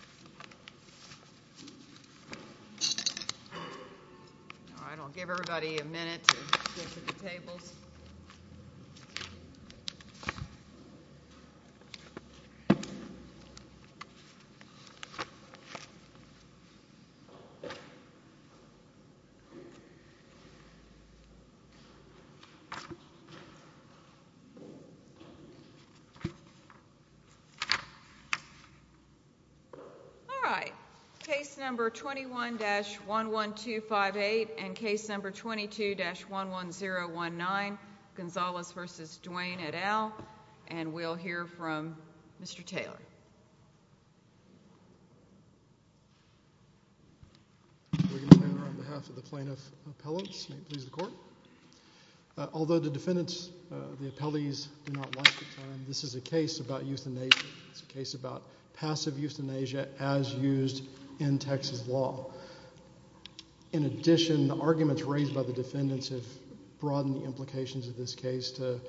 All right, I'll give everybody a minute to get to the tables. All right, case number 21-11258 and case number 22-11019, Gonzalez v. Duane et al., and we'll hear from Mr. Taylor. Mr. Taylor, on behalf of the plaintiff's appellants, may it please the court. Although the defendants, the appellees, do not like the term, this is a case about euthanasia. It's a case about passive euthanasia as used in Texas law. In addition, the arguments raised by the defendants have broadened the implications of this case to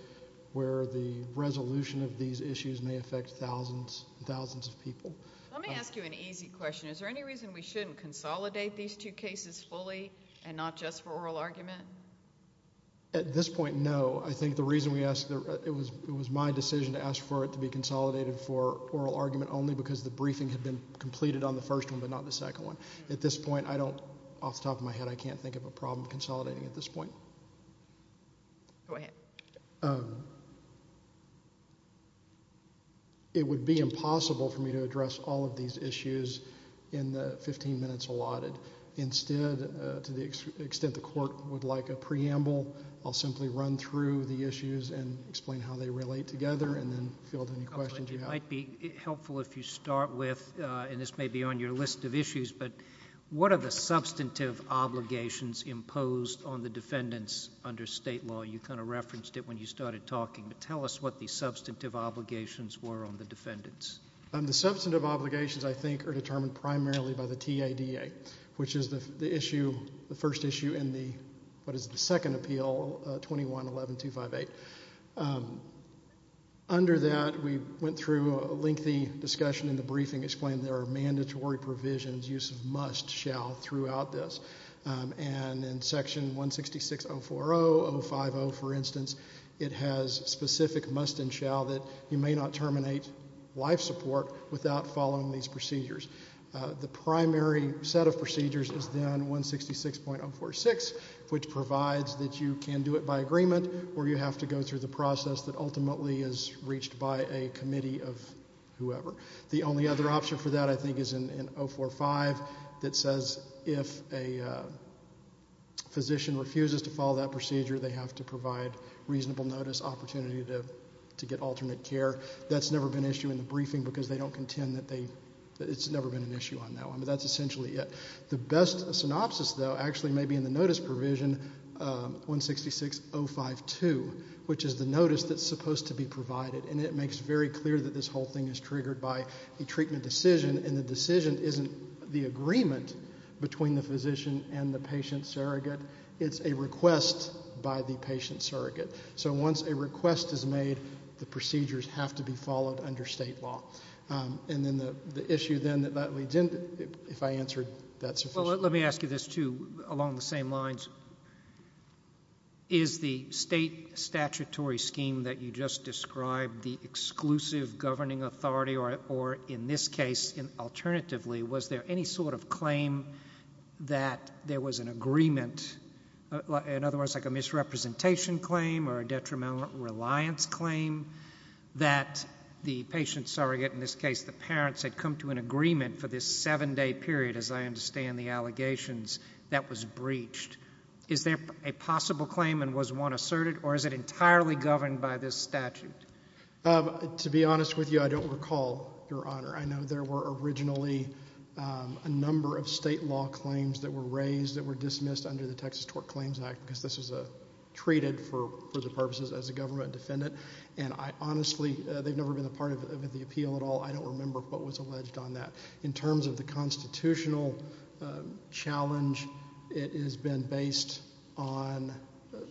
where the resolution of these issues may affect thousands and thousands of people. Let me ask you an easy question. Is there any reason we shouldn't consolidate these two cases fully and not just for oral argument? At this point, no. I think the reason we ask – it was my decision to ask for it to be consolidated for oral argument only because the briefing had been completed on the first one but not the second one. At this point, I don't – off the top of my head, I can't think of a problem consolidating at this point. Go ahead. It would be impossible for me to address all of these issues in the 15 minutes allotted. Instead, to the extent the court would like a preamble, I'll simply run through the issues and explain how they relate together and then field any questions you have. It might be helpful if you start with – and this may be on your list of issues – but what are the substantive obligations imposed on the defendants under state law? You kind of referenced it when you started talking. Tell us what the substantive obligations were on the defendants. The substantive obligations, I think, are determined primarily by the TADA, which is the issue – the first issue in the – what is the second appeal, 21-11-258. Under that, we went through a lengthy discussion in the briefing explaining there are mandatory provisions, use of must, shall, throughout this. And in Section 166.040, 050, for instance, it has specific must and shall that you may not terminate life support without following these procedures. The primary set of procedures is then 166.046, which provides that you can do it by agreement or you have to go through the process that ultimately is reached by a committee of whoever. The only other option for that, I think, is in 045 that says if a physician refuses to follow that procedure, they have to provide reasonable notice, opportunity to get alternate care. That's never been an issue in the briefing because they don't contend that they – it's never been an issue on that one. But that's essentially it. The best synopsis, though, actually may be in the notice provision, 166.052, which is the notice that's supposed to be provided. And it makes very clear that this whole thing is triggered by a treatment decision, and the decision isn't the agreement between the physician and the patient surrogate. It's a request by the patient surrogate. So once a request is made, the procedures have to be followed under state law. And then the issue, then, that leads into – if I answered that sufficiently. Well, let me ask you this, too, along the same lines. Is the state statutory scheme that you just described the exclusive governing authority or, in this case, alternatively, was there any sort of claim that there was an agreement? In other words, like a misrepresentation claim or a detrimental reliance claim that the patient surrogate, in this case the parents, had come to an agreement for this seven-day period, as I understand the allegations, that was breached. Is there a possible claim and was one asserted, or is it entirely governed by this statute? To be honest with you, I don't recall, Your Honor. I know there were originally a number of state law claims that were raised that were dismissed under the Texas Tort Claims Act because this was treated for the purposes as a government defendant. And I honestly – they've never been a part of the appeal at all. I don't remember what was alleged on that. In terms of the constitutional challenge, it has been based on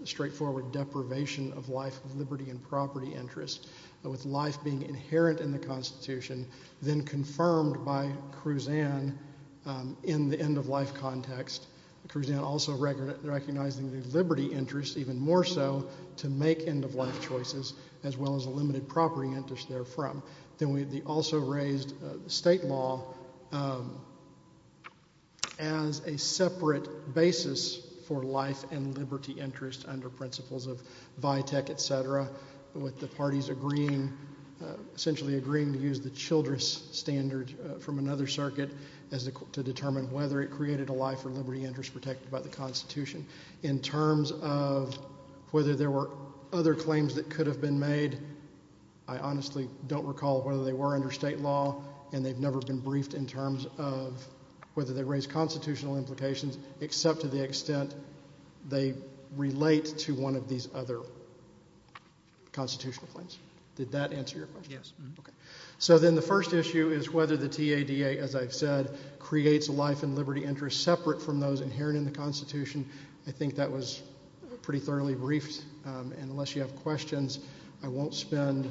straightforward deprivation of life, liberty, and property interest. With life being inherent in the Constitution, then confirmed by Kruzan in the end-of-life context, Kruzan also recognizing the liberty interest, even more so, to make end-of-life choices, as well as a limited property interest therefrom. Then we also raised state law as a separate basis for life and liberty interest under principles of VITEC, et cetera. With the parties agreeing – essentially agreeing to use the Childress standard from another circuit to determine whether it created a life or liberty interest protected by the Constitution. In terms of whether there were other claims that could have been made, I honestly don't recall whether they were under state law and they've never been briefed in terms of whether they raise constitutional implications, except to the extent they relate to one of these other constitutional claims. Did that answer your question? Yes. Okay. So then the first issue is whether the TADA, as I've said, creates a life and liberty interest separate from those inherent in the Constitution. I think that was pretty thoroughly briefed, and unless you have questions, I won't spend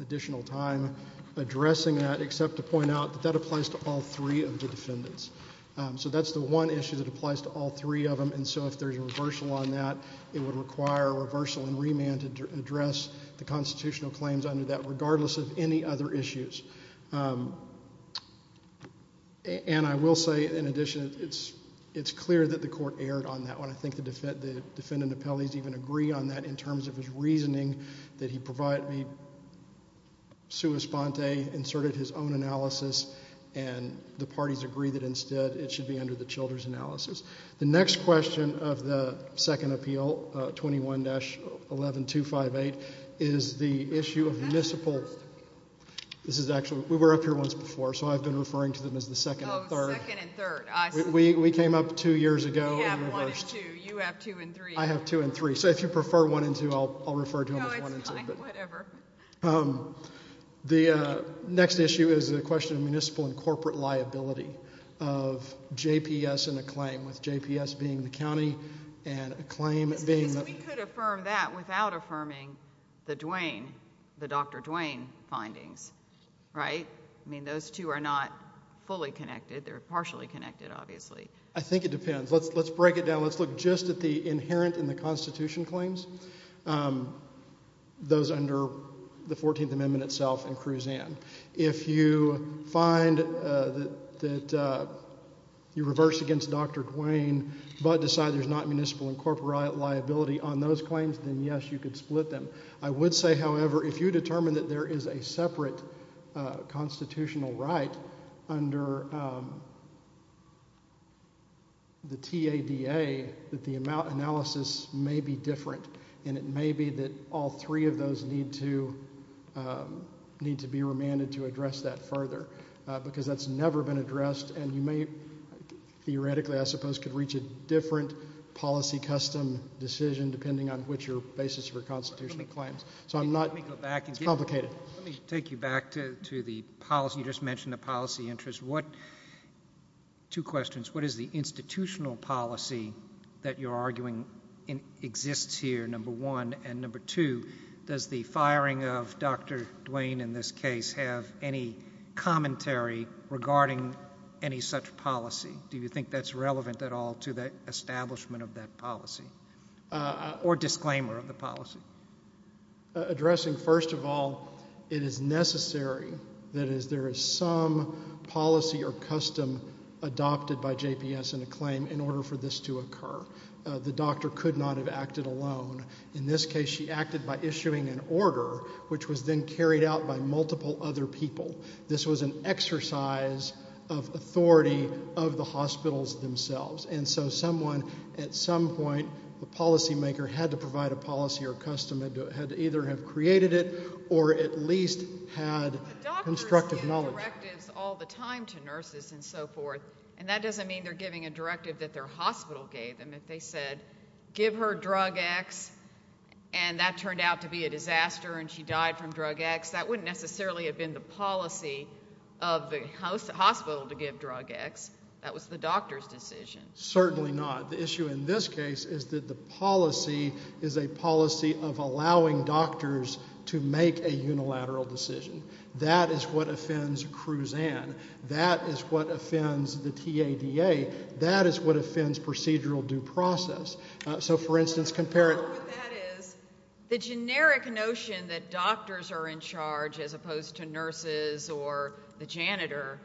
additional time addressing that, except to point out that that applies to all three of the defendants. So that's the one issue that applies to all three of them, and so if there's a reversal on that, it would require a reversal and remand to address the constitutional claims under that, regardless of any other issues. And I will say, in addition, it's clear that the Court erred on that one. I think the defendant appellees even agree on that in terms of his reasoning, that he provided me sua sponte, inserted his own analysis, and the parties agree that instead it should be under the children's analysis. The next question of the second appeal, 21-11258, is the issue of municipal ---- This is actually ---- we were up here once before, so I've been referring to them as the second and third. Oh, second and third. We came up two years ago. We have one and two. You have two and three. I have two and three. So if you prefer one and two, I'll refer to them as one and two. No, it's fine. Whatever. The next issue is the question of municipal and corporate liability of JPS and a claim, with JPS being the county and a claim being the ---- Because we could affirm that without affirming the Duane, the Dr. Duane findings, right? I mean, those two are not fully connected. They're partially connected, obviously. I think it depends. Let's break it down. Let's look just at the inherent in the Constitution claims, those under the 14th Amendment itself and Kruzan. If you find that you reverse against Dr. Duane but decide there's not municipal and corporate liability on those claims, then, yes, you could split them. I would say, however, if you determine that there is a separate constitutional right under the TADA, that the analysis may be different, and it may be that all three of those need to be remanded to address that further because that's never been addressed, and you may theoretically, I suppose, could reach a different policy custom decision depending on what your basis for constitutional claims. So I'm not ---- Let me go back. It's complicated. Let me take you back to the policy. You just mentioned the policy interest. Two questions. What is the institutional policy that you're arguing exists here, number one? And number two, does the firing of Dr. Duane in this case have any commentary regarding any such policy? Do you think that's relevant at all to the establishment of that policy or disclaimer of the policy? Addressing, first of all, it is necessary that there is some policy or custom adopted by JPS in a claim in order for this to occur. The doctor could not have acted alone. In this case, she acted by issuing an order, which was then carried out by multiple other people. This was an exercise of authority of the hospitals themselves, and so someone at some point, a policymaker, had to provide a policy or custom, had to either have created it or at least had constructive knowledge. Doctors give directives all the time to nurses and so forth, and that doesn't mean they're giving a directive that their hospital gave them. They said, give her drug X, and that turned out to be a disaster and she died from drug X. That wouldn't necessarily have been the policy of the hospital to give drug X. That was the doctor's decision. Certainly not. The issue in this case is that the policy is a policy of allowing doctors to make a unilateral decision. That is what offends Cruzan. That is what offends the TADA. That is what offends procedural due process. So, for instance, compare it. What that is, the generic notion that doctors are in charge as opposed to nurses or the janitor,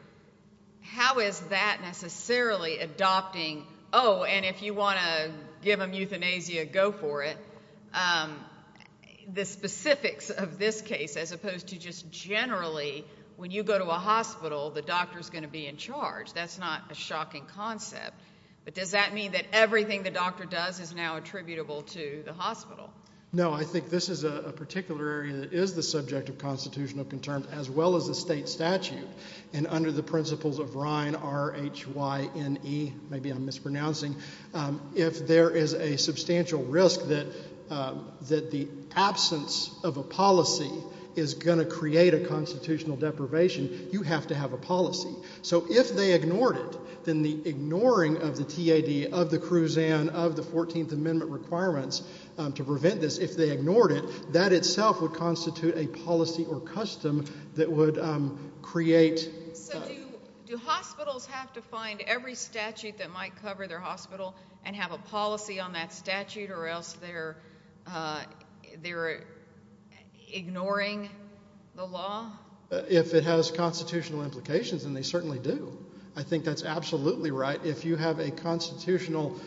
how is that necessarily adopting, oh, and if you want to give them euthanasia, go for it, the specifics of this case as opposed to just generally when you go to a hospital, the doctor is going to be in charge. That's not a shocking concept. But does that mean that everything the doctor does is now attributable to the hospital? No. I think this is a particular area that is the subject of constitutional concerns as well as the state statute. And under the principles of Rhine, R-H-Y-N-E, maybe I'm mispronouncing, if there is a substantial risk that the absence of a policy is going to create a constitutional deprivation, you have to have a policy. So if they ignored it, then the ignoring of the TAD, of the CRUZAN, of the 14th Amendment requirements to prevent this, if they ignored it, that itself would constitute a policy or custom that would create. So do hospitals have to find every statute that might cover their hospital and have a policy on that statute or else they're ignoring the law? If it has constitutional implications, then they certainly do. I think that's absolutely right. If you have a constitutional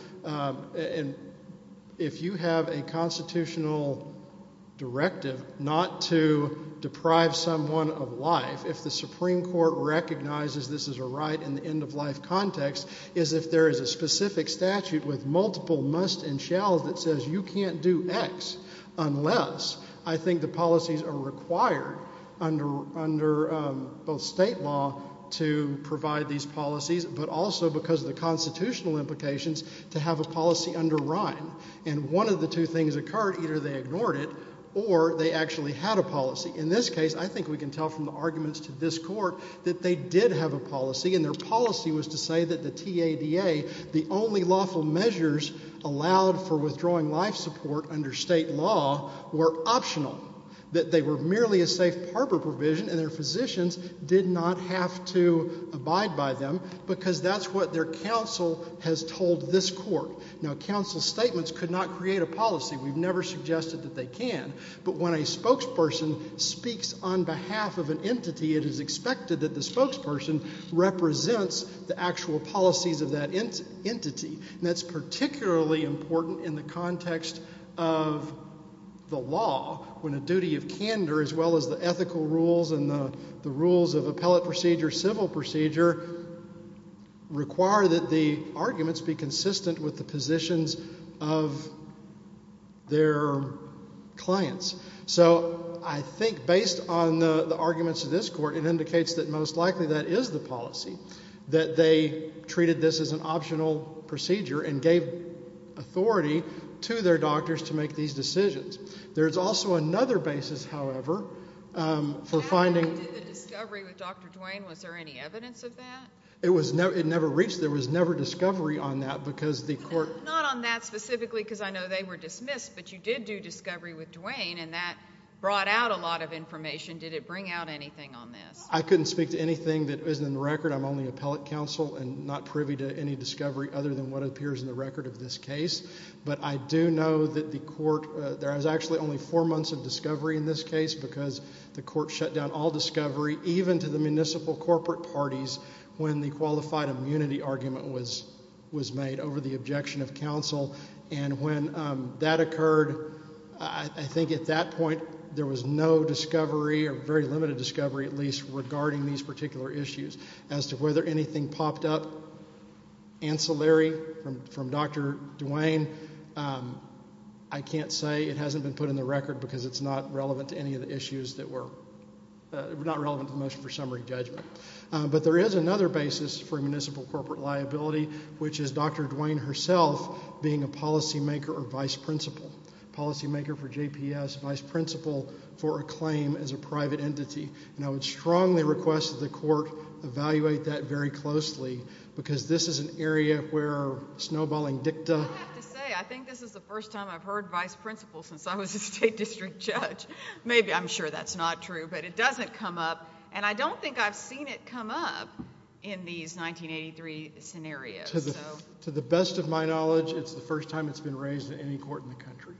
directive not to deprive someone of life, if the Supreme Court recognizes this is a right in the end-of-life context, is if there is a specific statute with multiple musts and shalls that says you can't do X unless I think the policies are required under both state law to provide these policies but also because of the constitutional implications to have a policy under Rhine. And one of the two things occurred. Either they ignored it or they actually had a policy. In this case, I think we can tell from the arguments to this court that they did have a policy, and their policy was to say that the TADA, the only lawful measures allowed for withdrawing life support under state law were optional, that they were merely a safe harbor provision, and their physicians did not have to abide by them because that's what their counsel has told this court. Now, counsel's statements could not create a policy. We've never suggested that they can. But when a spokesperson speaks on behalf of an entity, it is expected that the spokesperson represents the actual policies of that entity, and that's particularly important in the context of the law when a duty of candor as well as the ethical rules and the rules of appellate procedure, civil procedure, require that the arguments be consistent with the positions of their clients. So I think based on the arguments of this court, it indicates that most likely that is the policy, that they treated this as an optional procedure and gave authority to their doctors to make these decisions. There is also another basis, however, for finding – When you did the discovery with Dr. Duane, was there any evidence of that? It never reached – there was never discovery on that because the court – Not on that specifically because I know they were dismissed, but you did do discovery with Duane, and that brought out a lot of information. Did it bring out anything on this? I couldn't speak to anything that isn't in the record. I'm only appellate counsel and not privy to any discovery other than what appears in the record of this case. But I do know that the court – There was actually only four months of discovery in this case because the court shut down all discovery, even to the municipal corporate parties, when the qualified immunity argument was made over the objection of counsel. And when that occurred, I think at that point there was no discovery or very limited discovery, at least, regarding these particular issues. As to whether anything popped up ancillary from Dr. Duane, I can't say. It hasn't been put in the record because it's not relevant to any of the issues that were – not relevant to the motion for summary judgment. But there is another basis for municipal corporate liability, which is Dr. Duane herself being a policymaker or vice principal, policymaker for JPS, vice principal for a claim as a private entity. And I would strongly request that the court evaluate that very closely because this is an area where snowballing dicta – I have to say, I think this is the first time I've heard vice principal since I was a state district judge. Maybe I'm sure that's not true, but it doesn't come up. And I don't think I've seen it come up in these 1983 scenarios. To the best of my knowledge, it's the first time it's been raised in any court in the country.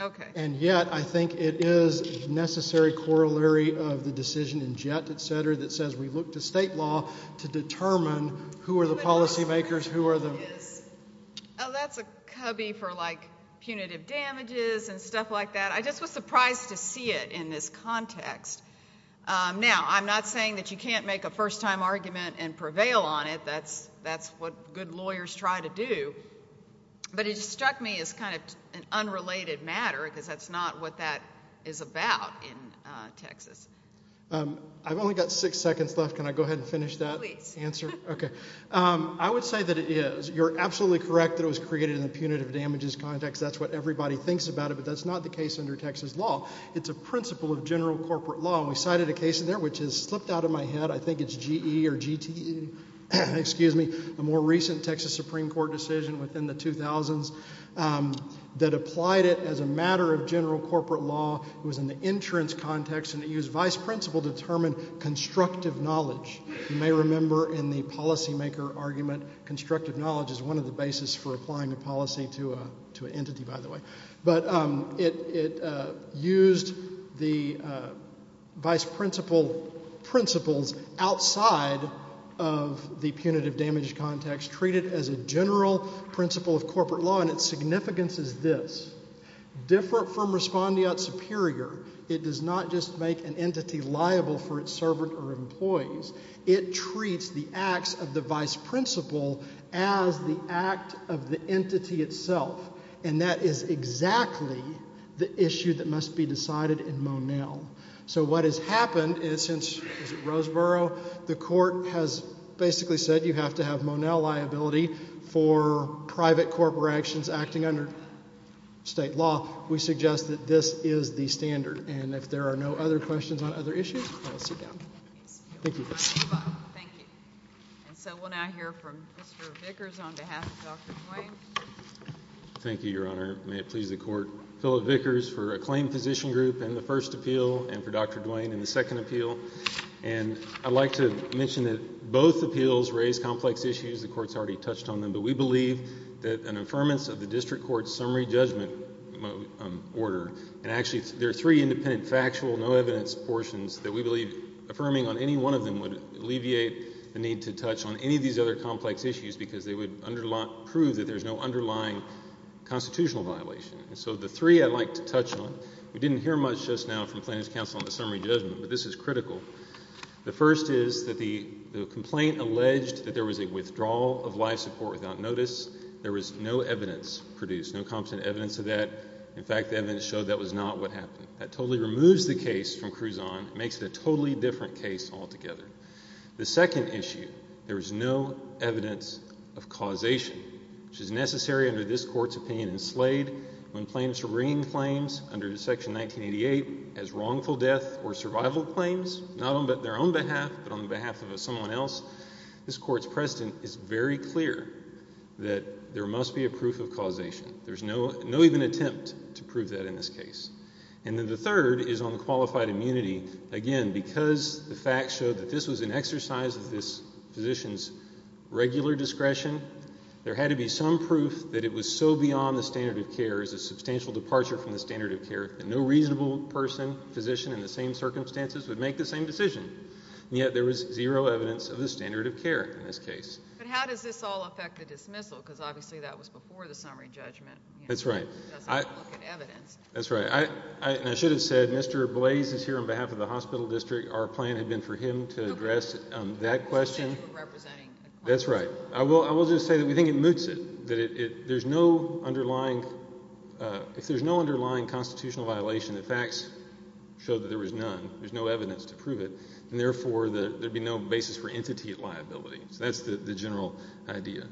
Okay. And yet I think it is necessary corollary of the decision in Jett, et cetera, that says we look to state law to determine who are the policymakers, who are the – Oh, that's a cubby for, like, punitive damages and stuff like that. I just was surprised to see it in this context. Now, I'm not saying that you can't make a first-time argument and prevail on it. That's what good lawyers try to do. But it struck me as kind of an unrelated matter because that's not what that is about in Texas. I've only got six seconds left. Can I go ahead and finish that answer? Please. Okay. I would say that it is. You're absolutely correct that it was created in a punitive damages context. That's what everybody thinks about it, but that's not the case under Texas law. It's a principle of general corporate law. We cited a case in there which has slipped out of my head. I think it's GE or GTE, excuse me, a more recent Texas Supreme Court decision within the 2000s that applied it as a matter of general corporate law. It was in the insurance context, and it used vice principle to determine constructive knowledge. You may remember in the policymaker argument, constructive knowledge is one of the basis for applying a policy to an entity, by the way. But it used the vice principles outside of the punitive damage context, treated as a general principle of corporate law, and its significance is this. Different from respondeat superior, it does not just make an entity liable for its servant or employees. It treats the acts of the vice principle as the act of the entity itself, and that is exactly the issue that must be decided in Monell. So what has happened is since, is it Roseboro, the court has basically said you have to have Monell liability for private corporations acting under state law. We suggest that this is the standard, and if there are no other questions on other issues, I will sit down. Thank you. Thank you. And so we'll now hear from Mr. Vickers on behalf of Dr. Duane. Thank you, Your Honor. May it please the Court. Philip Vickers for Acclaimed Physician Group in the first appeal and for Dr. Duane in the second appeal. And I'd like to mention that both appeals raise complex issues. The Court's already touched on them, but we believe that an affirmance of the district court's summary judgment order, and actually there are three independent factual no evidence portions that we believe affirming on any one of them would alleviate the need to touch on any of these other complex issues because they would prove that there's no underlying constitutional violation. And so the three I'd like to touch on, we didn't hear much just now from plaintiff's counsel on the summary judgment, but this is critical. The first is that the complaint alleged that there was a withdrawal of life support without notice. There was no evidence produced, no competent evidence of that. In fact, the evidence showed that was not what happened. That totally removes the case from Cruzon, makes it a totally different case altogether. The second issue, there was no evidence of causation, which is necessary under this Court's opinion in Slade when plaintiffs are bringing claims under Section 1988 as wrongful death or survival claims, not on their own behalf, but on the behalf of someone else. This Court's precedent is very clear that there must be a proof of causation. There's no even attempt to prove that in this case. And then the third is on the qualified immunity. Again, because the facts show that this was an exercise of this physician's regular discretion, there had to be some proof that it was so beyond the standard of care, as a substantial departure from the standard of care, that no reasonable person, physician in the same circumstances, would make the same decision. And yet there was zero evidence of the standard of care in this case. But how does this all affect the dismissal? Because obviously that was before the summary judgment. That's right. That's right. And I should have said Mr. Blaze is here on behalf of the hospital district. Our plan had been for him to address that question. That's right. I will just say that we think it moots it, that if there's no underlying constitutional violation, the facts show that there was none. There's no evidence to prove it, and therefore there would be no basis for entity liability. That's the general idea.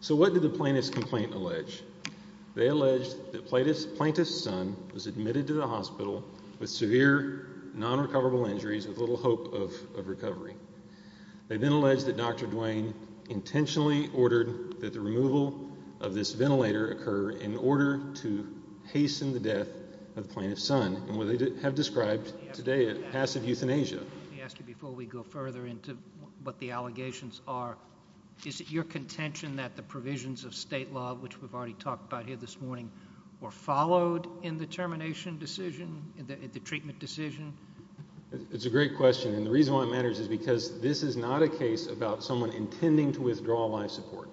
So what did the plaintiff's complaint allege? They allege that Plaintiff's son was admitted to the hospital with severe non-recoverable injuries with little hope of recovery. They then allege that Dr. Duane intentionally ordered that the removal of this ventilator occur in order to hasten the death of Plaintiff's son, and what they have described today as passive euthanasia. Let me ask you before we go further into what the allegations are. Is it your contention that the provisions of state law, which we've already talked about here this morning, were followed in the termination decision, the treatment decision? It's a great question, and the reason why it matters is because this is not a case about someone intending to withdraw life support.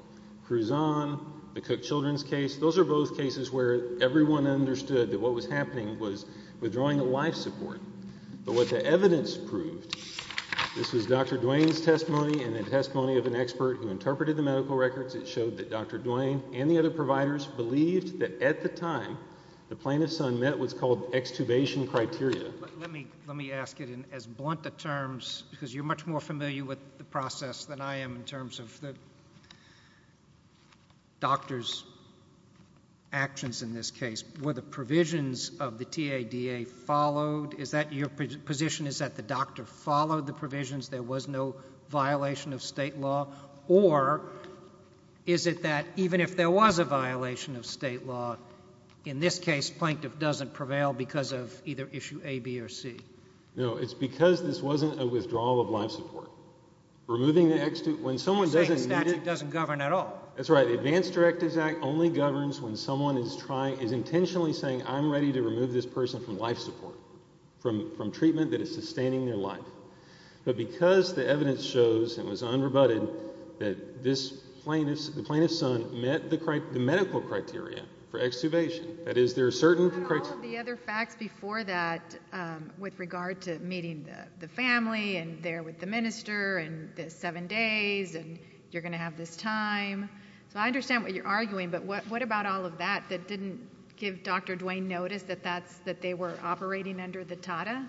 Cruzon, the Cook Children's case, those are both cases where everyone understood that what was happening was withdrawing life support. But what the evidence proved, this was Dr. Duane's testimony and the testimony of an expert who interpreted the medical records. It showed that Dr. Duane and the other providers believed that at the time the Plaintiff's son met what's called extubation criteria. Let me ask it in as blunt a terms, because you're much more familiar with the process than I am in terms of the doctor's actions in this case. Were the provisions of the TADA followed? Is that your position? Is that the doctor followed the provisions? There was no violation of state law? Or is it that even if there was a violation of state law, in this case Plaintiff doesn't prevail because of either issue A, B, or C? No, it's because this wasn't a withdrawal of life support. Removing the extubation, when someone doesn't need it... You're saying the statute doesn't govern at all. That's right. The Advanced Directives Act only governs when someone is intentionally saying, I'm ready to remove this person from life support, from treatment that is sustaining their life. But because the evidence shows, and was unrebutted, that the Plaintiff's son met the medical criteria for extubation, that is, there are certain criteria... What about all of the other facts before that with regard to meeting the family and there with the minister and the seven days and you're going to have this time? So I understand what you're arguing, but what about all of that that didn't give Dr. Duane notice that they were operating under the TADA?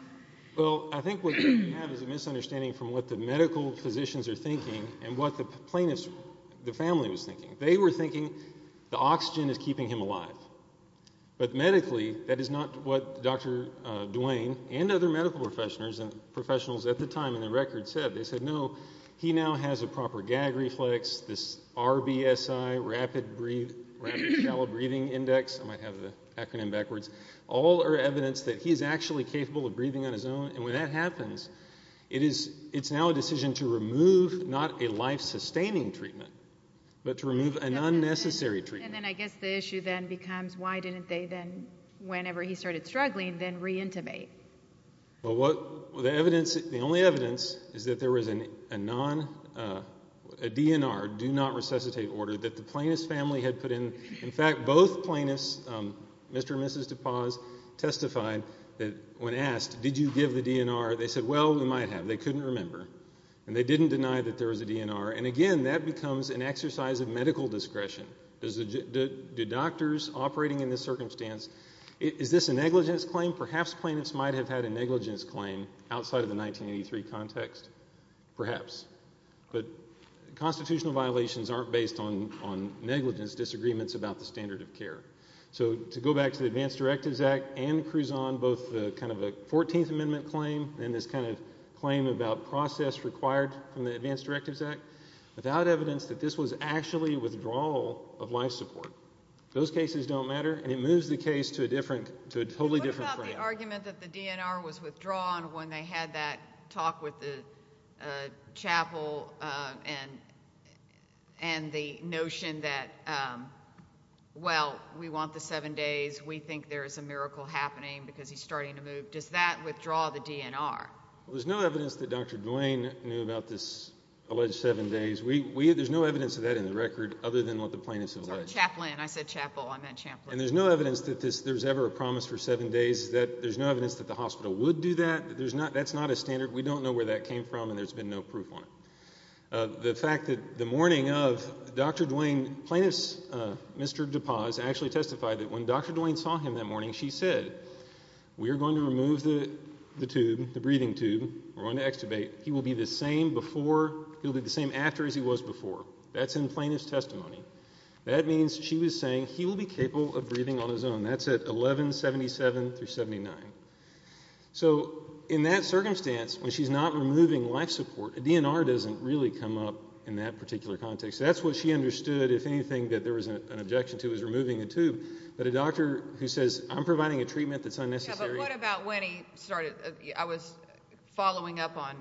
Well, I think what you have is a misunderstanding from what the medical physicians are thinking and what the plaintiff's family was thinking. They were thinking the oxygen is keeping him alive. But medically, that is not what Dr. Duane and other medical professionals at the time in the record said. They said, no, he now has a proper gag reflex, this RBSI, rapid shallow breathing index, I might have the acronym backwards, all are evidence that he's actually capable of breathing on his own, and when that happens, it's now a decision to remove not a life-sustaining treatment, but to remove an unnecessary treatment. And then I guess the issue then becomes, why didn't they then, whenever he started struggling, then re-intimate? Well, the only evidence is that there was a DNR, do not resuscitate order, that the plaintiff's family had put in. In fact, both plaintiffs, Mr. and Mrs. DePause, testified that when asked, did you give the DNR, they said, well, we might have, they couldn't remember. And they didn't deny that there was a DNR. And again, that becomes an exercise of medical discretion. Do doctors operating in this circumstance, is this a negligence claim? Perhaps plaintiffs might have had a negligence claim outside of the 1983 context, perhaps. But constitutional violations aren't based on negligence, it's disagreements about the standard of care. So to go back to the Advanced Directives Act and Cruzon, both kind of a 14th Amendment claim, and this kind of claim about process required from the Advanced Directives Act, without evidence that this was actually withdrawal of life support. Those cases don't matter, and it moves the case to a totally different frame. What about the argument that the DNR was withdrawn when they had that talk with the chapel and the notion that, well, we want the seven days, we think there is a miracle happening because he's starting to move. Does that withdraw the DNR? There's no evidence that Dr. Duane knew about this alleged seven days. There's no evidence of that in the record other than what the plaintiffs alleged. I said chapel, I meant chaplain. And there's no evidence that there's ever a promise for seven days. There's no evidence that the hospital would do that. That's not a standard. We don't know where that came from, and there's been no proof on it. The fact that the morning of Dr. Duane, plaintiffs' Mr. DuPaz actually testified that when Dr. Duane saw him that morning, she said, we are going to remove the tube, the breathing tube. We're going to extubate. He will be the same after as he was before. That's in plaintiff's testimony. That means she was saying he will be capable of breathing on his own. That's at 1177 through 79. So in that circumstance, when she's not removing life support, a DNR doesn't really come up in that particular context. That's what she understood if anything that there was an objection to was removing a tube. But a doctor who says I'm providing a treatment that's unnecessary. Yeah, but what about when he started? I was following up on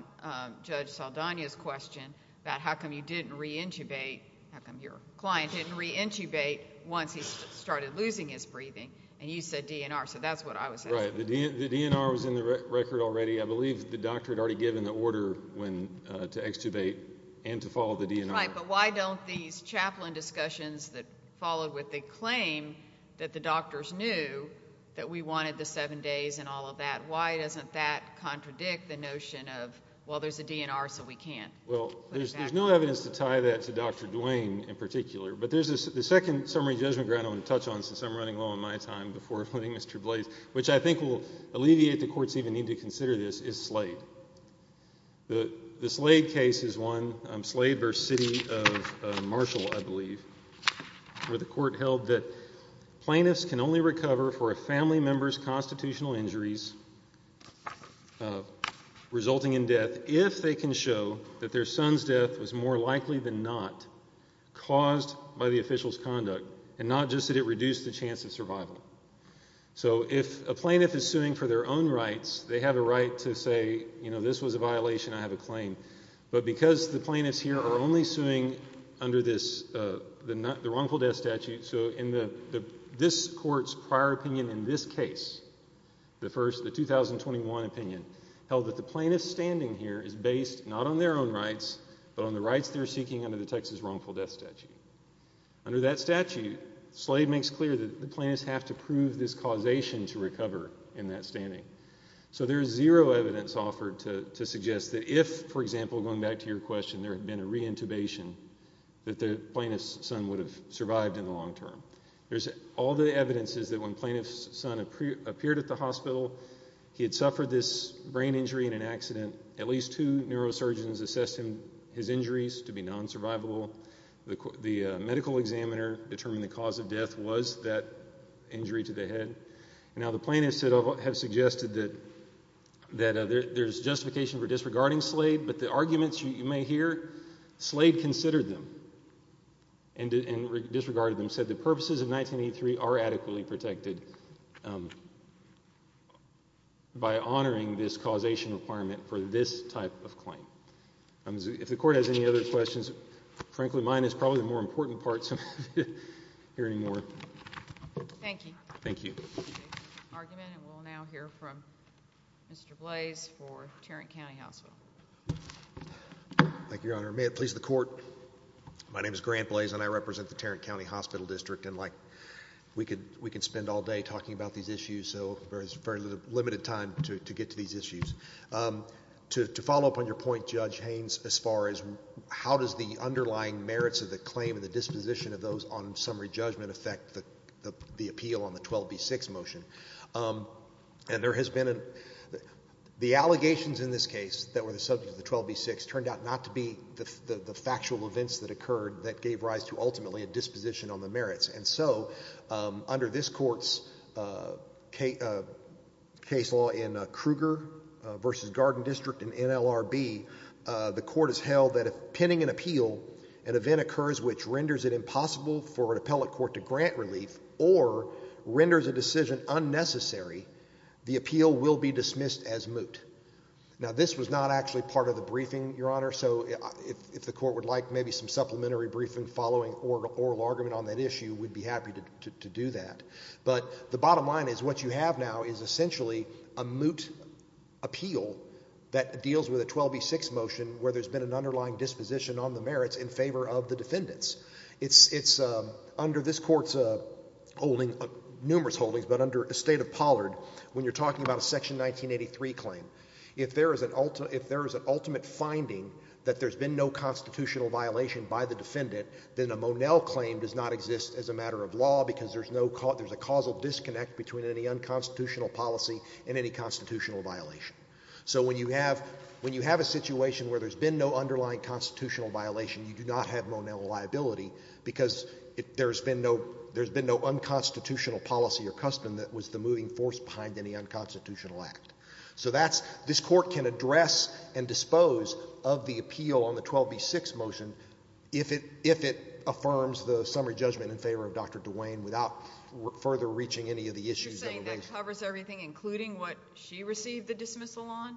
Judge Saldana's question about how come you didn't reintubate, how come your client didn't reintubate once he started losing his breathing, and you said DNR. So that's what I was asking. Right. The DNR was in the record already. I believe the doctor had already given the order to extubate and to follow the DNR. Right. But why don't these chaplain discussions that followed with the claim that the doctors knew that we wanted the seven days and all of that, why doesn't that contradict the notion of, well, there's a DNR, so we can't? Well, there's no evidence to tie that to Dr. Duane in particular. But the second summary judgment ground I want to touch on, since I'm running low on my time before putting Mr. Blase, which I think will alleviate the court's even need to consider this, is Slade. The Slade case is one, Slade v. City of Marshall, I believe, where the court held that plaintiffs can only recover for a family member's constitutional injuries resulting in death if they can show that their son's death was more likely than not caused by the official's conduct, and not just that it reduced the chance of survival. So if a plaintiff is suing for their own rights, they have a right to say, you know, this was a violation, I have a claim. But because the plaintiffs here are only suing under the wrongful death statute, so this court's prior opinion in this case, the first, the 2021 opinion, held that the plaintiff standing here is based not on their own rights but on the rights they're seeking under the Texas wrongful death statute. Under that statute, Slade makes clear that the plaintiffs have to prove this causation to recover in that standing. So there is zero evidence offered to suggest that if, for example, going back to your question, there had been a reintubation, that the plaintiff's son would have survived in the long term. All the evidence is that when the plaintiff's son appeared at the hospital, he had suffered this brain injury in an accident. At least two neurosurgeons assessed his injuries to be non-survivable. The medical examiner determined the cause of death was that injury to the head. Now, the plaintiffs have suggested that there's justification for disregarding Slade, but the arguments you may hear, Slade considered them and disregarded them, said the purposes of 1983 are adequately protected by honoring this causation requirement for this type of claim. If the court has any other questions, frankly, mine is probably the more important part, so I'm not hearing more. Thank you. Thank you. We'll now hear from Mr. Blaise for Tarrant County Hospital. Thank you, Your Honor. May it please the court, my name is Grant Blaise and I represent the Tarrant County Hospital District, and we could spend all day talking about these issues, so there's very limited time to get to these issues. To follow up on your point, Judge Haynes, as far as how does the underlying merits of the claim and the disposition of those on summary judgment affect the appeal on the 12B6 motion, and there has been a the allegations in this case that were the subject of the 12B6 turned out not to be the factual events that occurred that gave rise to ultimately a disposition on the merits, and so under this court's case law in Kruger v. Garden District in NLRB, the court has held that if penning an appeal, an event occurs which renders it impossible for an appellate court to grant relief or renders a decision unnecessary, the appeal will be dismissed as moot. Now this was not actually part of the briefing, Your Honor, so if the court would like maybe some supplementary briefing following oral argument on that issue, we'd be happy to do that. But the bottom line is what you have now is essentially a moot appeal that deals with a 12B6 motion where there's been an underlying disposition on the merits in favor of the defendants. It's under this court's holding, numerous holdings, but under a State of Pollard, when you're talking about a Section 1983 claim, if there is an ultimate finding that there's been no constitutional violation by the defendant, then a Monell claim does not exist as a matter of law because there's a causal disconnect between any unconstitutional policy and any constitutional violation. So when you have a situation where there's been no underlying constitutional violation, you do not have Monell liability because there's been no unconstitutional policy or custom that was the moving force behind any unconstitutional act. So this court can address and dispose of the appeal on the 12B6 motion if it affirms the summary judgment in favor of Dr. DeWayne without further reaching any of the issues that were raised. You're saying that covers everything, including what she received the dismissal on?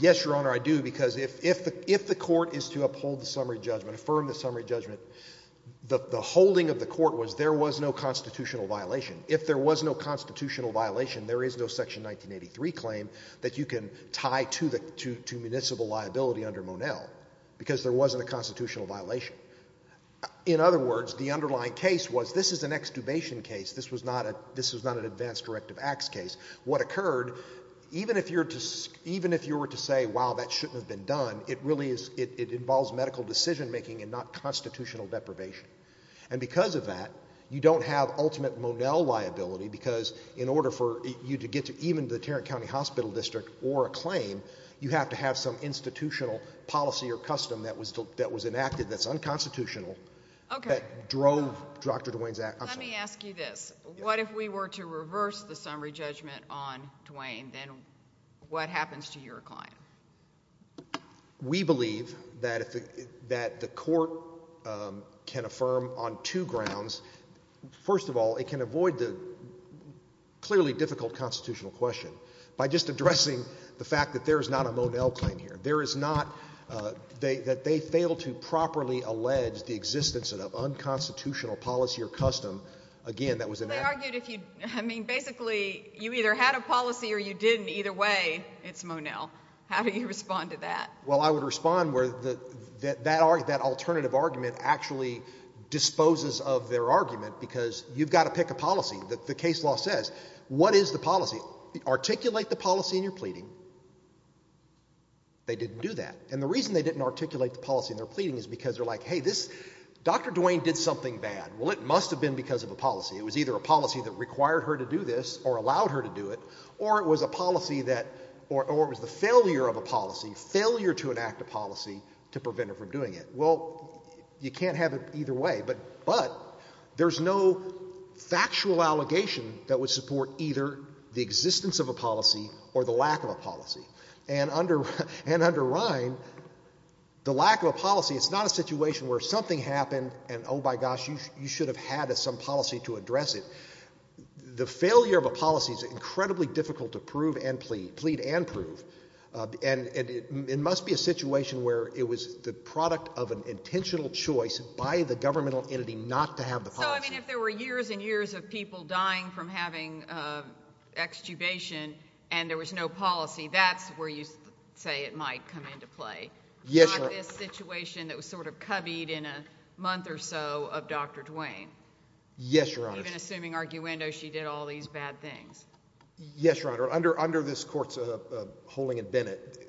Yes, Your Honor, I do, because if the court is to uphold the summary judgment, affirm the summary judgment, the holding of the court was there was no constitutional violation. If there was no constitutional violation, there is no Section 1983 claim that you can tie to municipal liability under Monell because there wasn't a constitutional violation. In other words, the underlying case was this is an extubation case. This was not an advanced directive acts case. What occurred, even if you were to say, wow, that shouldn't have been done, it involves medical decision-making and not constitutional deprivation. And because of that, you don't have ultimate Monell liability because in order for you to get to even the Tarrant County Hospital District or a claim, you have to have some institutional policy or custom that was enacted that's unconstitutional that drove Dr. DeWayne's action. Let me ask you this. What if we were to reverse the summary judgment on DeWayne? Then what happens to your client? We believe that the court can affirm on two grounds. First of all, it can avoid the clearly difficult constitutional question by just addressing the fact that there is not a Monell claim here. There is not. They fail to properly allege the existence of unconstitutional policy or custom. Again, that was enacted. I mean, basically you either had a policy or you didn't. Either way, it's Monell. How do you respond to that? Well, I would respond where that alternative argument actually disposes of their argument because you've got to pick a policy. The case law says what is the policy? Articulate the policy in your pleading. They didn't do that. And the reason they didn't articulate the policy in their pleading is because they're like, hey, Dr. DeWayne did something bad. Well, it must have been because of a policy. It was either a policy that required her to do this or allowed her to do it or it was a policy that or it was the failure of a policy, failure to enact a policy to prevent her from doing it. Well, you can't have it either way, but there's no factual allegation that would support either the existence of a policy or the lack of a policy. And under Ryan, the lack of a policy, it's not a situation where something happened and, oh, my gosh, you should have had some policy to address it. The failure of a policy is incredibly difficult to prove and plead, plead and prove, and it must be a situation where it was the product of an intentional choice by the governmental entity not to have the policy. So, I mean, if there were years and years of people dying from having extubation and there was no policy, that's where you say it might come into play. Yes, Your Honor. Not this situation that was sort of coveyed in a month or so of Dr. DeWayne. Yes, Your Honor. Even assuming arguendo, she did all these bad things. Yes, Your Honor. Under this court's holding in Bennett,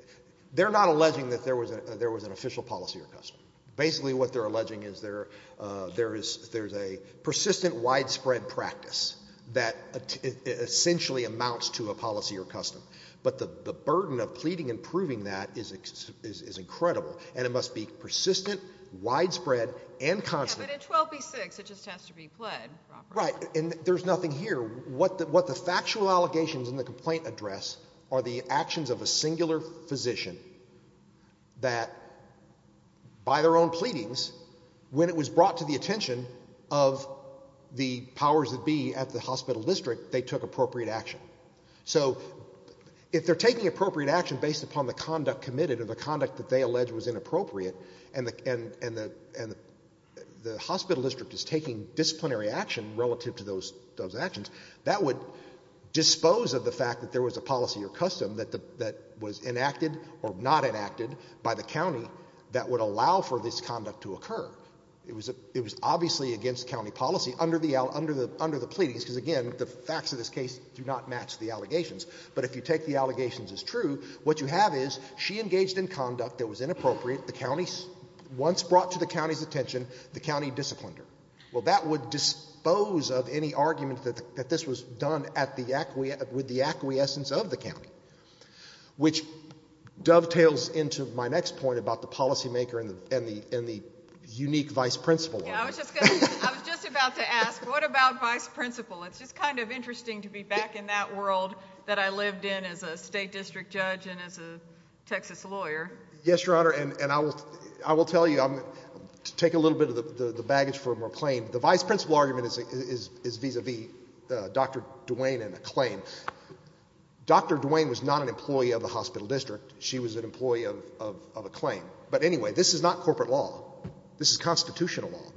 they're not alleging that there was an official policy or custom. Basically what they're alleging is there's a persistent widespread practice that essentially amounts to a policy or custom. But the burden of pleading and proving that is incredible, and it must be persistent, widespread, and constant. But in 12b-6, it just has to be pled properly. Right, and there's nothing here. What the factual allegations in the complaint address are the actions of a singular physician that, by their own pleadings, when it was brought to the attention of the powers that be at the hospital district, they took appropriate action. So if they're taking appropriate action based upon the conduct committed or the conduct that they allege was inappropriate and the hospital district is taking disciplinary action relative to those actions, that would dispose of the fact that there was a policy or custom that was enacted or not enacted by the county that would allow for this conduct to occur. It was obviously against county policy under the pleadings because, again, the facts of this case do not match the allegations. But if you take the allegations as true, what you have is she engaged in conduct that was inappropriate, the county once brought to the county's attention, the county disciplined her. Well, that would dispose of any argument that this was done with the acquiescence of the county, which dovetails into my next point about the policymaker and the unique vice principal. I was just about to ask, what about vice principal? It's just kind of interesting to be back in that world that I lived in as a state district judge and as a Texas lawyer. Yes, Your Honor, and I will tell you, to take a little bit of the baggage from her claim, the vice principal argument is vis-à-vis Dr. Duane and the claim. Dr. Duane was not an employee of the hospital district. She was an employee of a claim. But anyway, this is not corporate law. This is constitutional law.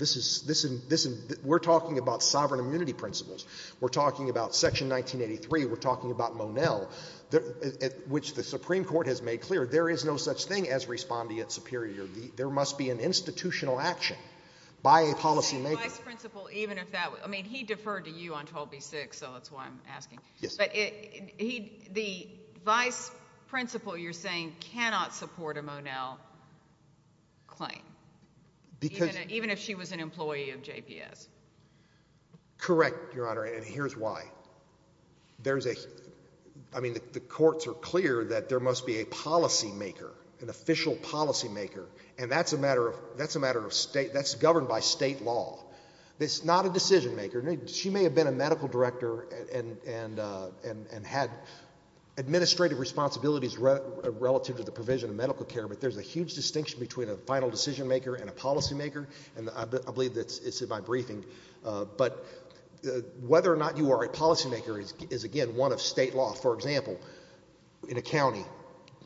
We're talking about sovereign immunity principles. We're talking about Section 1983. We're talking about Monell, which the Supreme Court has made clear there is no such thing as respondeat superior. There must be an institutional action by a policymaker. But the vice principal, even if that was – I mean, he deferred to you on 12B-6, so that's why I'm asking. Yes. But the vice principal, you're saying, cannot support a Monell claim, even if she was an employee of JPS. Correct, Your Honor, and here's why. There's a – I mean, the courts are clear that there must be a policymaker, an official policymaker, and that's a matter of state. That's governed by state law. It's not a decision-maker. She may have been a medical director and had administrative responsibilities relative to the provision of medical care, but there's a huge distinction between a final decision-maker and a policymaker, and I believe it's in my briefing. But whether or not you are a policymaker is, again, one of state law. For example, in a county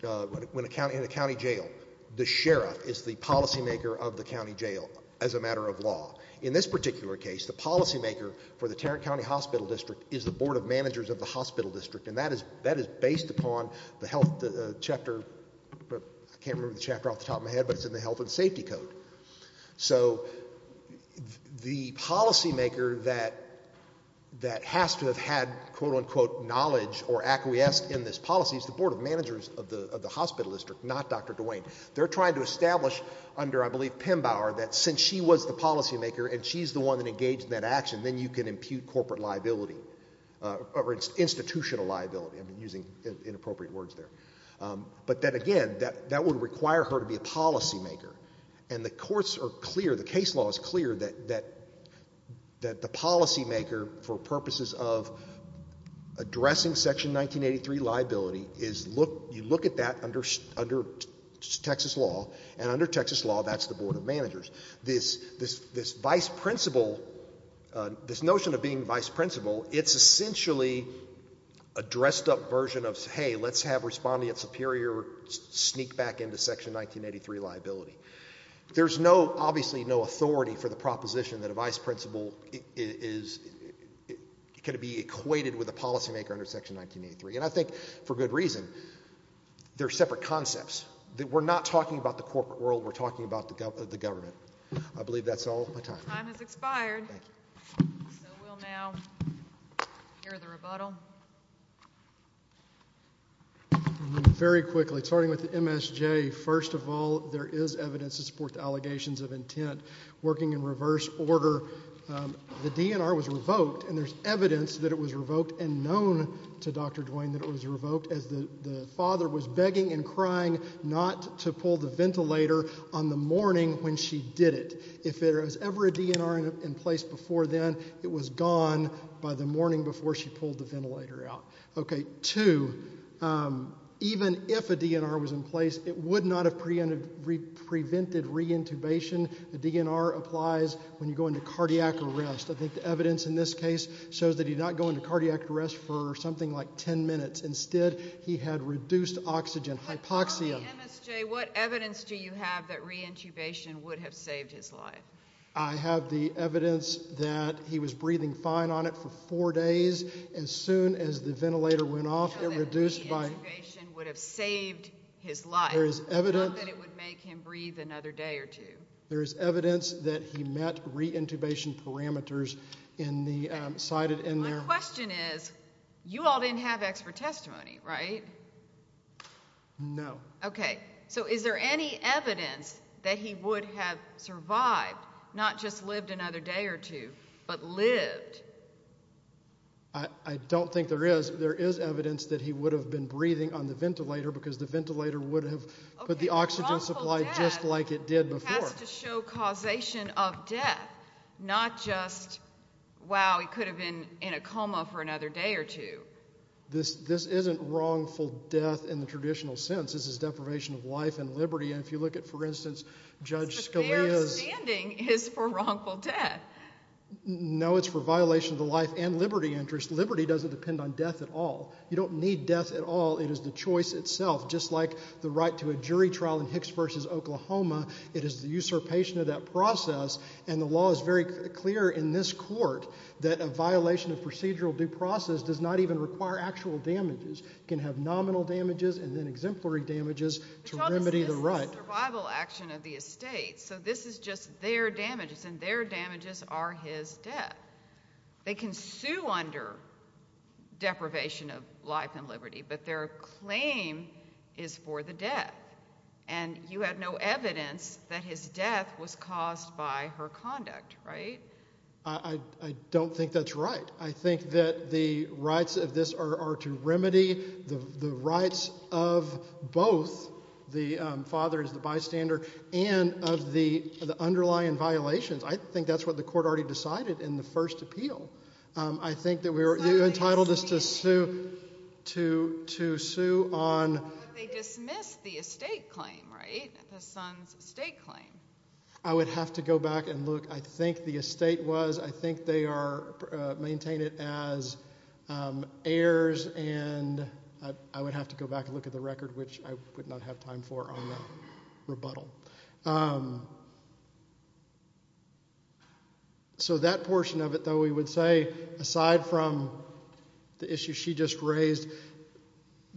jail, the sheriff is the policymaker of the county jail as a matter of law. In this particular case, the policymaker for the Tarrant County Hospital District is the board of managers of the hospital district, and that is based upon the health chapter – I can't remember the chapter off the top of my head, but it's in the Health and Safety Code. So the policymaker that has to have had, quote-unquote, knowledge or acquiesced in this policy is the board of managers of the hospital district, not Dr. DeWayne. They're trying to establish under, I believe, Pembower that since she was the policymaker and she's the one that engaged in that action, then you can impute corporate liability or institutional liability. I'm using inappropriate words there. But then again, that would require her to be a policymaker, and the courts are clear, the case law is clear, that the policymaker, for purposes of addressing Section 1983 liability, you look at that under Texas law, and under Texas law, that's the board of managers. This notion of being vice principal, it's essentially a dressed-up version of, hey, let's have respondent superior sneak back into Section 1983 liability. There's obviously no authority for the proposition that a vice principal can be equated with a policymaker under Section 1983, and I think for good reason. They're separate concepts. We're not talking about the corporate world. We're talking about the government. I believe that's all of my time. Your time has expired, so we'll now hear the rebuttal. Very quickly, starting with the MSJ, first of all, there is evidence to support the allegations of intent. Working in reverse order, the DNR was revoked, and there's evidence that it was revoked and known to Dr. Duane that it was revoked as the father was begging and crying not to pull the ventilator on the morning when she did it. If there was ever a DNR in place before then, it was gone by the morning before she pulled the ventilator out. Two, even if a DNR was in place, it would not have prevented reintubation. A DNR applies when you go into cardiac arrest. I think the evidence in this case shows that he did not go into cardiac arrest for something like 10 minutes. Instead, he had reduced oxygen hypoxia. Mr. MSJ, what evidence do you have that reintubation would have saved his life? I have the evidence that he was breathing fine on it for four days. As soon as the ventilator went off, it reduced by— So that reintubation would have saved his life, not that it would make him breathe another day or two. There is evidence that he met reintubation parameters cited in there. My question is, you all didn't have expert testimony, right? No. Okay, so is there any evidence that he would have survived, not just lived another day or two, but lived? I don't think there is. There is evidence that he would have been breathing on the ventilator because the ventilator would have put the oxygen supply just like it did before. Okay, wrongful death has to show causation of death, not just, wow, he could have been in a coma for another day or two. This isn't wrongful death in the traditional sense. This is deprivation of life and liberty, and if you look at, for instance, Judge Scalia's— But their standing is for wrongful death. No, it's for violation of the life and liberty interest. Liberty doesn't depend on death at all. You don't need death at all. It is the choice itself, just like the right to a jury trial in Hicks v. Oklahoma. It is the usurpation of that process, and the law is very clear in this court that a violation of procedural due process does not even require actual damages. It can have nominal damages and then exemplary damages to remedy the right. This is a survival action of the estate, so this is just their damages, and their damages are his death. They can sue under deprivation of life and liberty, but their claim is for the death, and you have no evidence that his death was caused by her conduct, right? I don't think that's right. I think that the rights of this are to remedy the rights of both the father as the bystander and of the underlying violations. I think that's what the court already decided in the first appeal. I think that we're entitled to sue on— But they dismissed the estate claim, right, the son's estate claim. I would have to go back and look. I think the estate was— I would maintain it as heirs, and I would have to go back and look at the record, which I would not have time for on the rebuttal. So that portion of it, though, we would say, aside from the issue she just raised,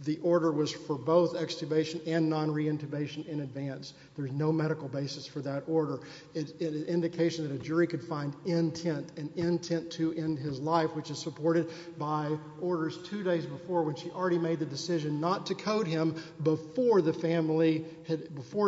the order was for both extubation and non-reintubation in advance. There's no medical basis for that order. It's an indication that a jury could find intent, an intent to end his life, which is supported by orders two days before when she already made the decision not to code him before it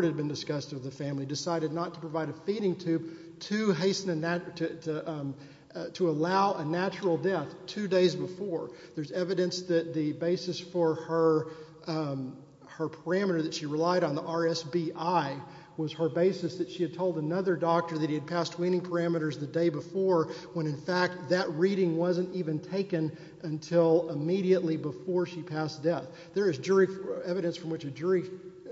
had been discussed with the family, decided not to provide a feeding tube to allow a natural death two days before. There's evidence that the basis for her parameter that she relied on, the RSBI, was her basis that she had told another doctor that he had passed weaning parameters the day before when, in fact, that reading wasn't even taken until immediately before she passed death. There is evidence from which a jury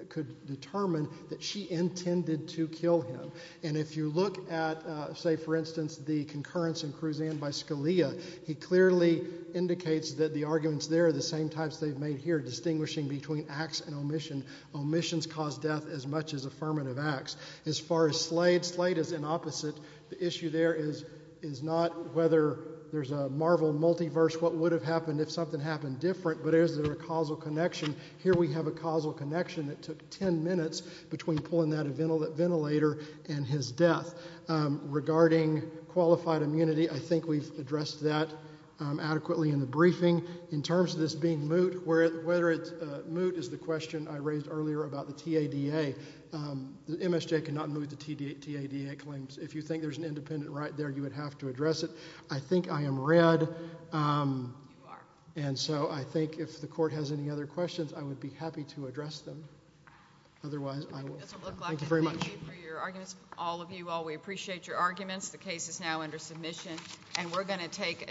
could determine that she intended to kill him. And if you look at, say, for instance, the concurrence in Cruzan by Scalia, he clearly indicates that the arguments there are the same types they've made here, distinguishing between acts and omission. Omissions cause death as much as affirmative acts. As far as Slade, Slade is an opposite. The issue there is not whether there's a marvel multiverse, what would have happened if something happened different, but is there a causal connection? Here we have a causal connection that took ten minutes between pulling out a ventilator and his death. Regarding qualified immunity, I think we've addressed that adequately in the briefing. In terms of this being moot, whether it's moot is the question I raised earlier about the TADA. MSJ cannot move the TADA claims. If you think there's an independent right there, you would have to address it. I think I am read. And so I think if the Court has any other questions, I would be happy to address them. Otherwise, I will stop. Thank you very much. It doesn't look like it. Thank you for your arguments, all of you all. We appreciate your arguments. The case is now under submission. And we're going to take a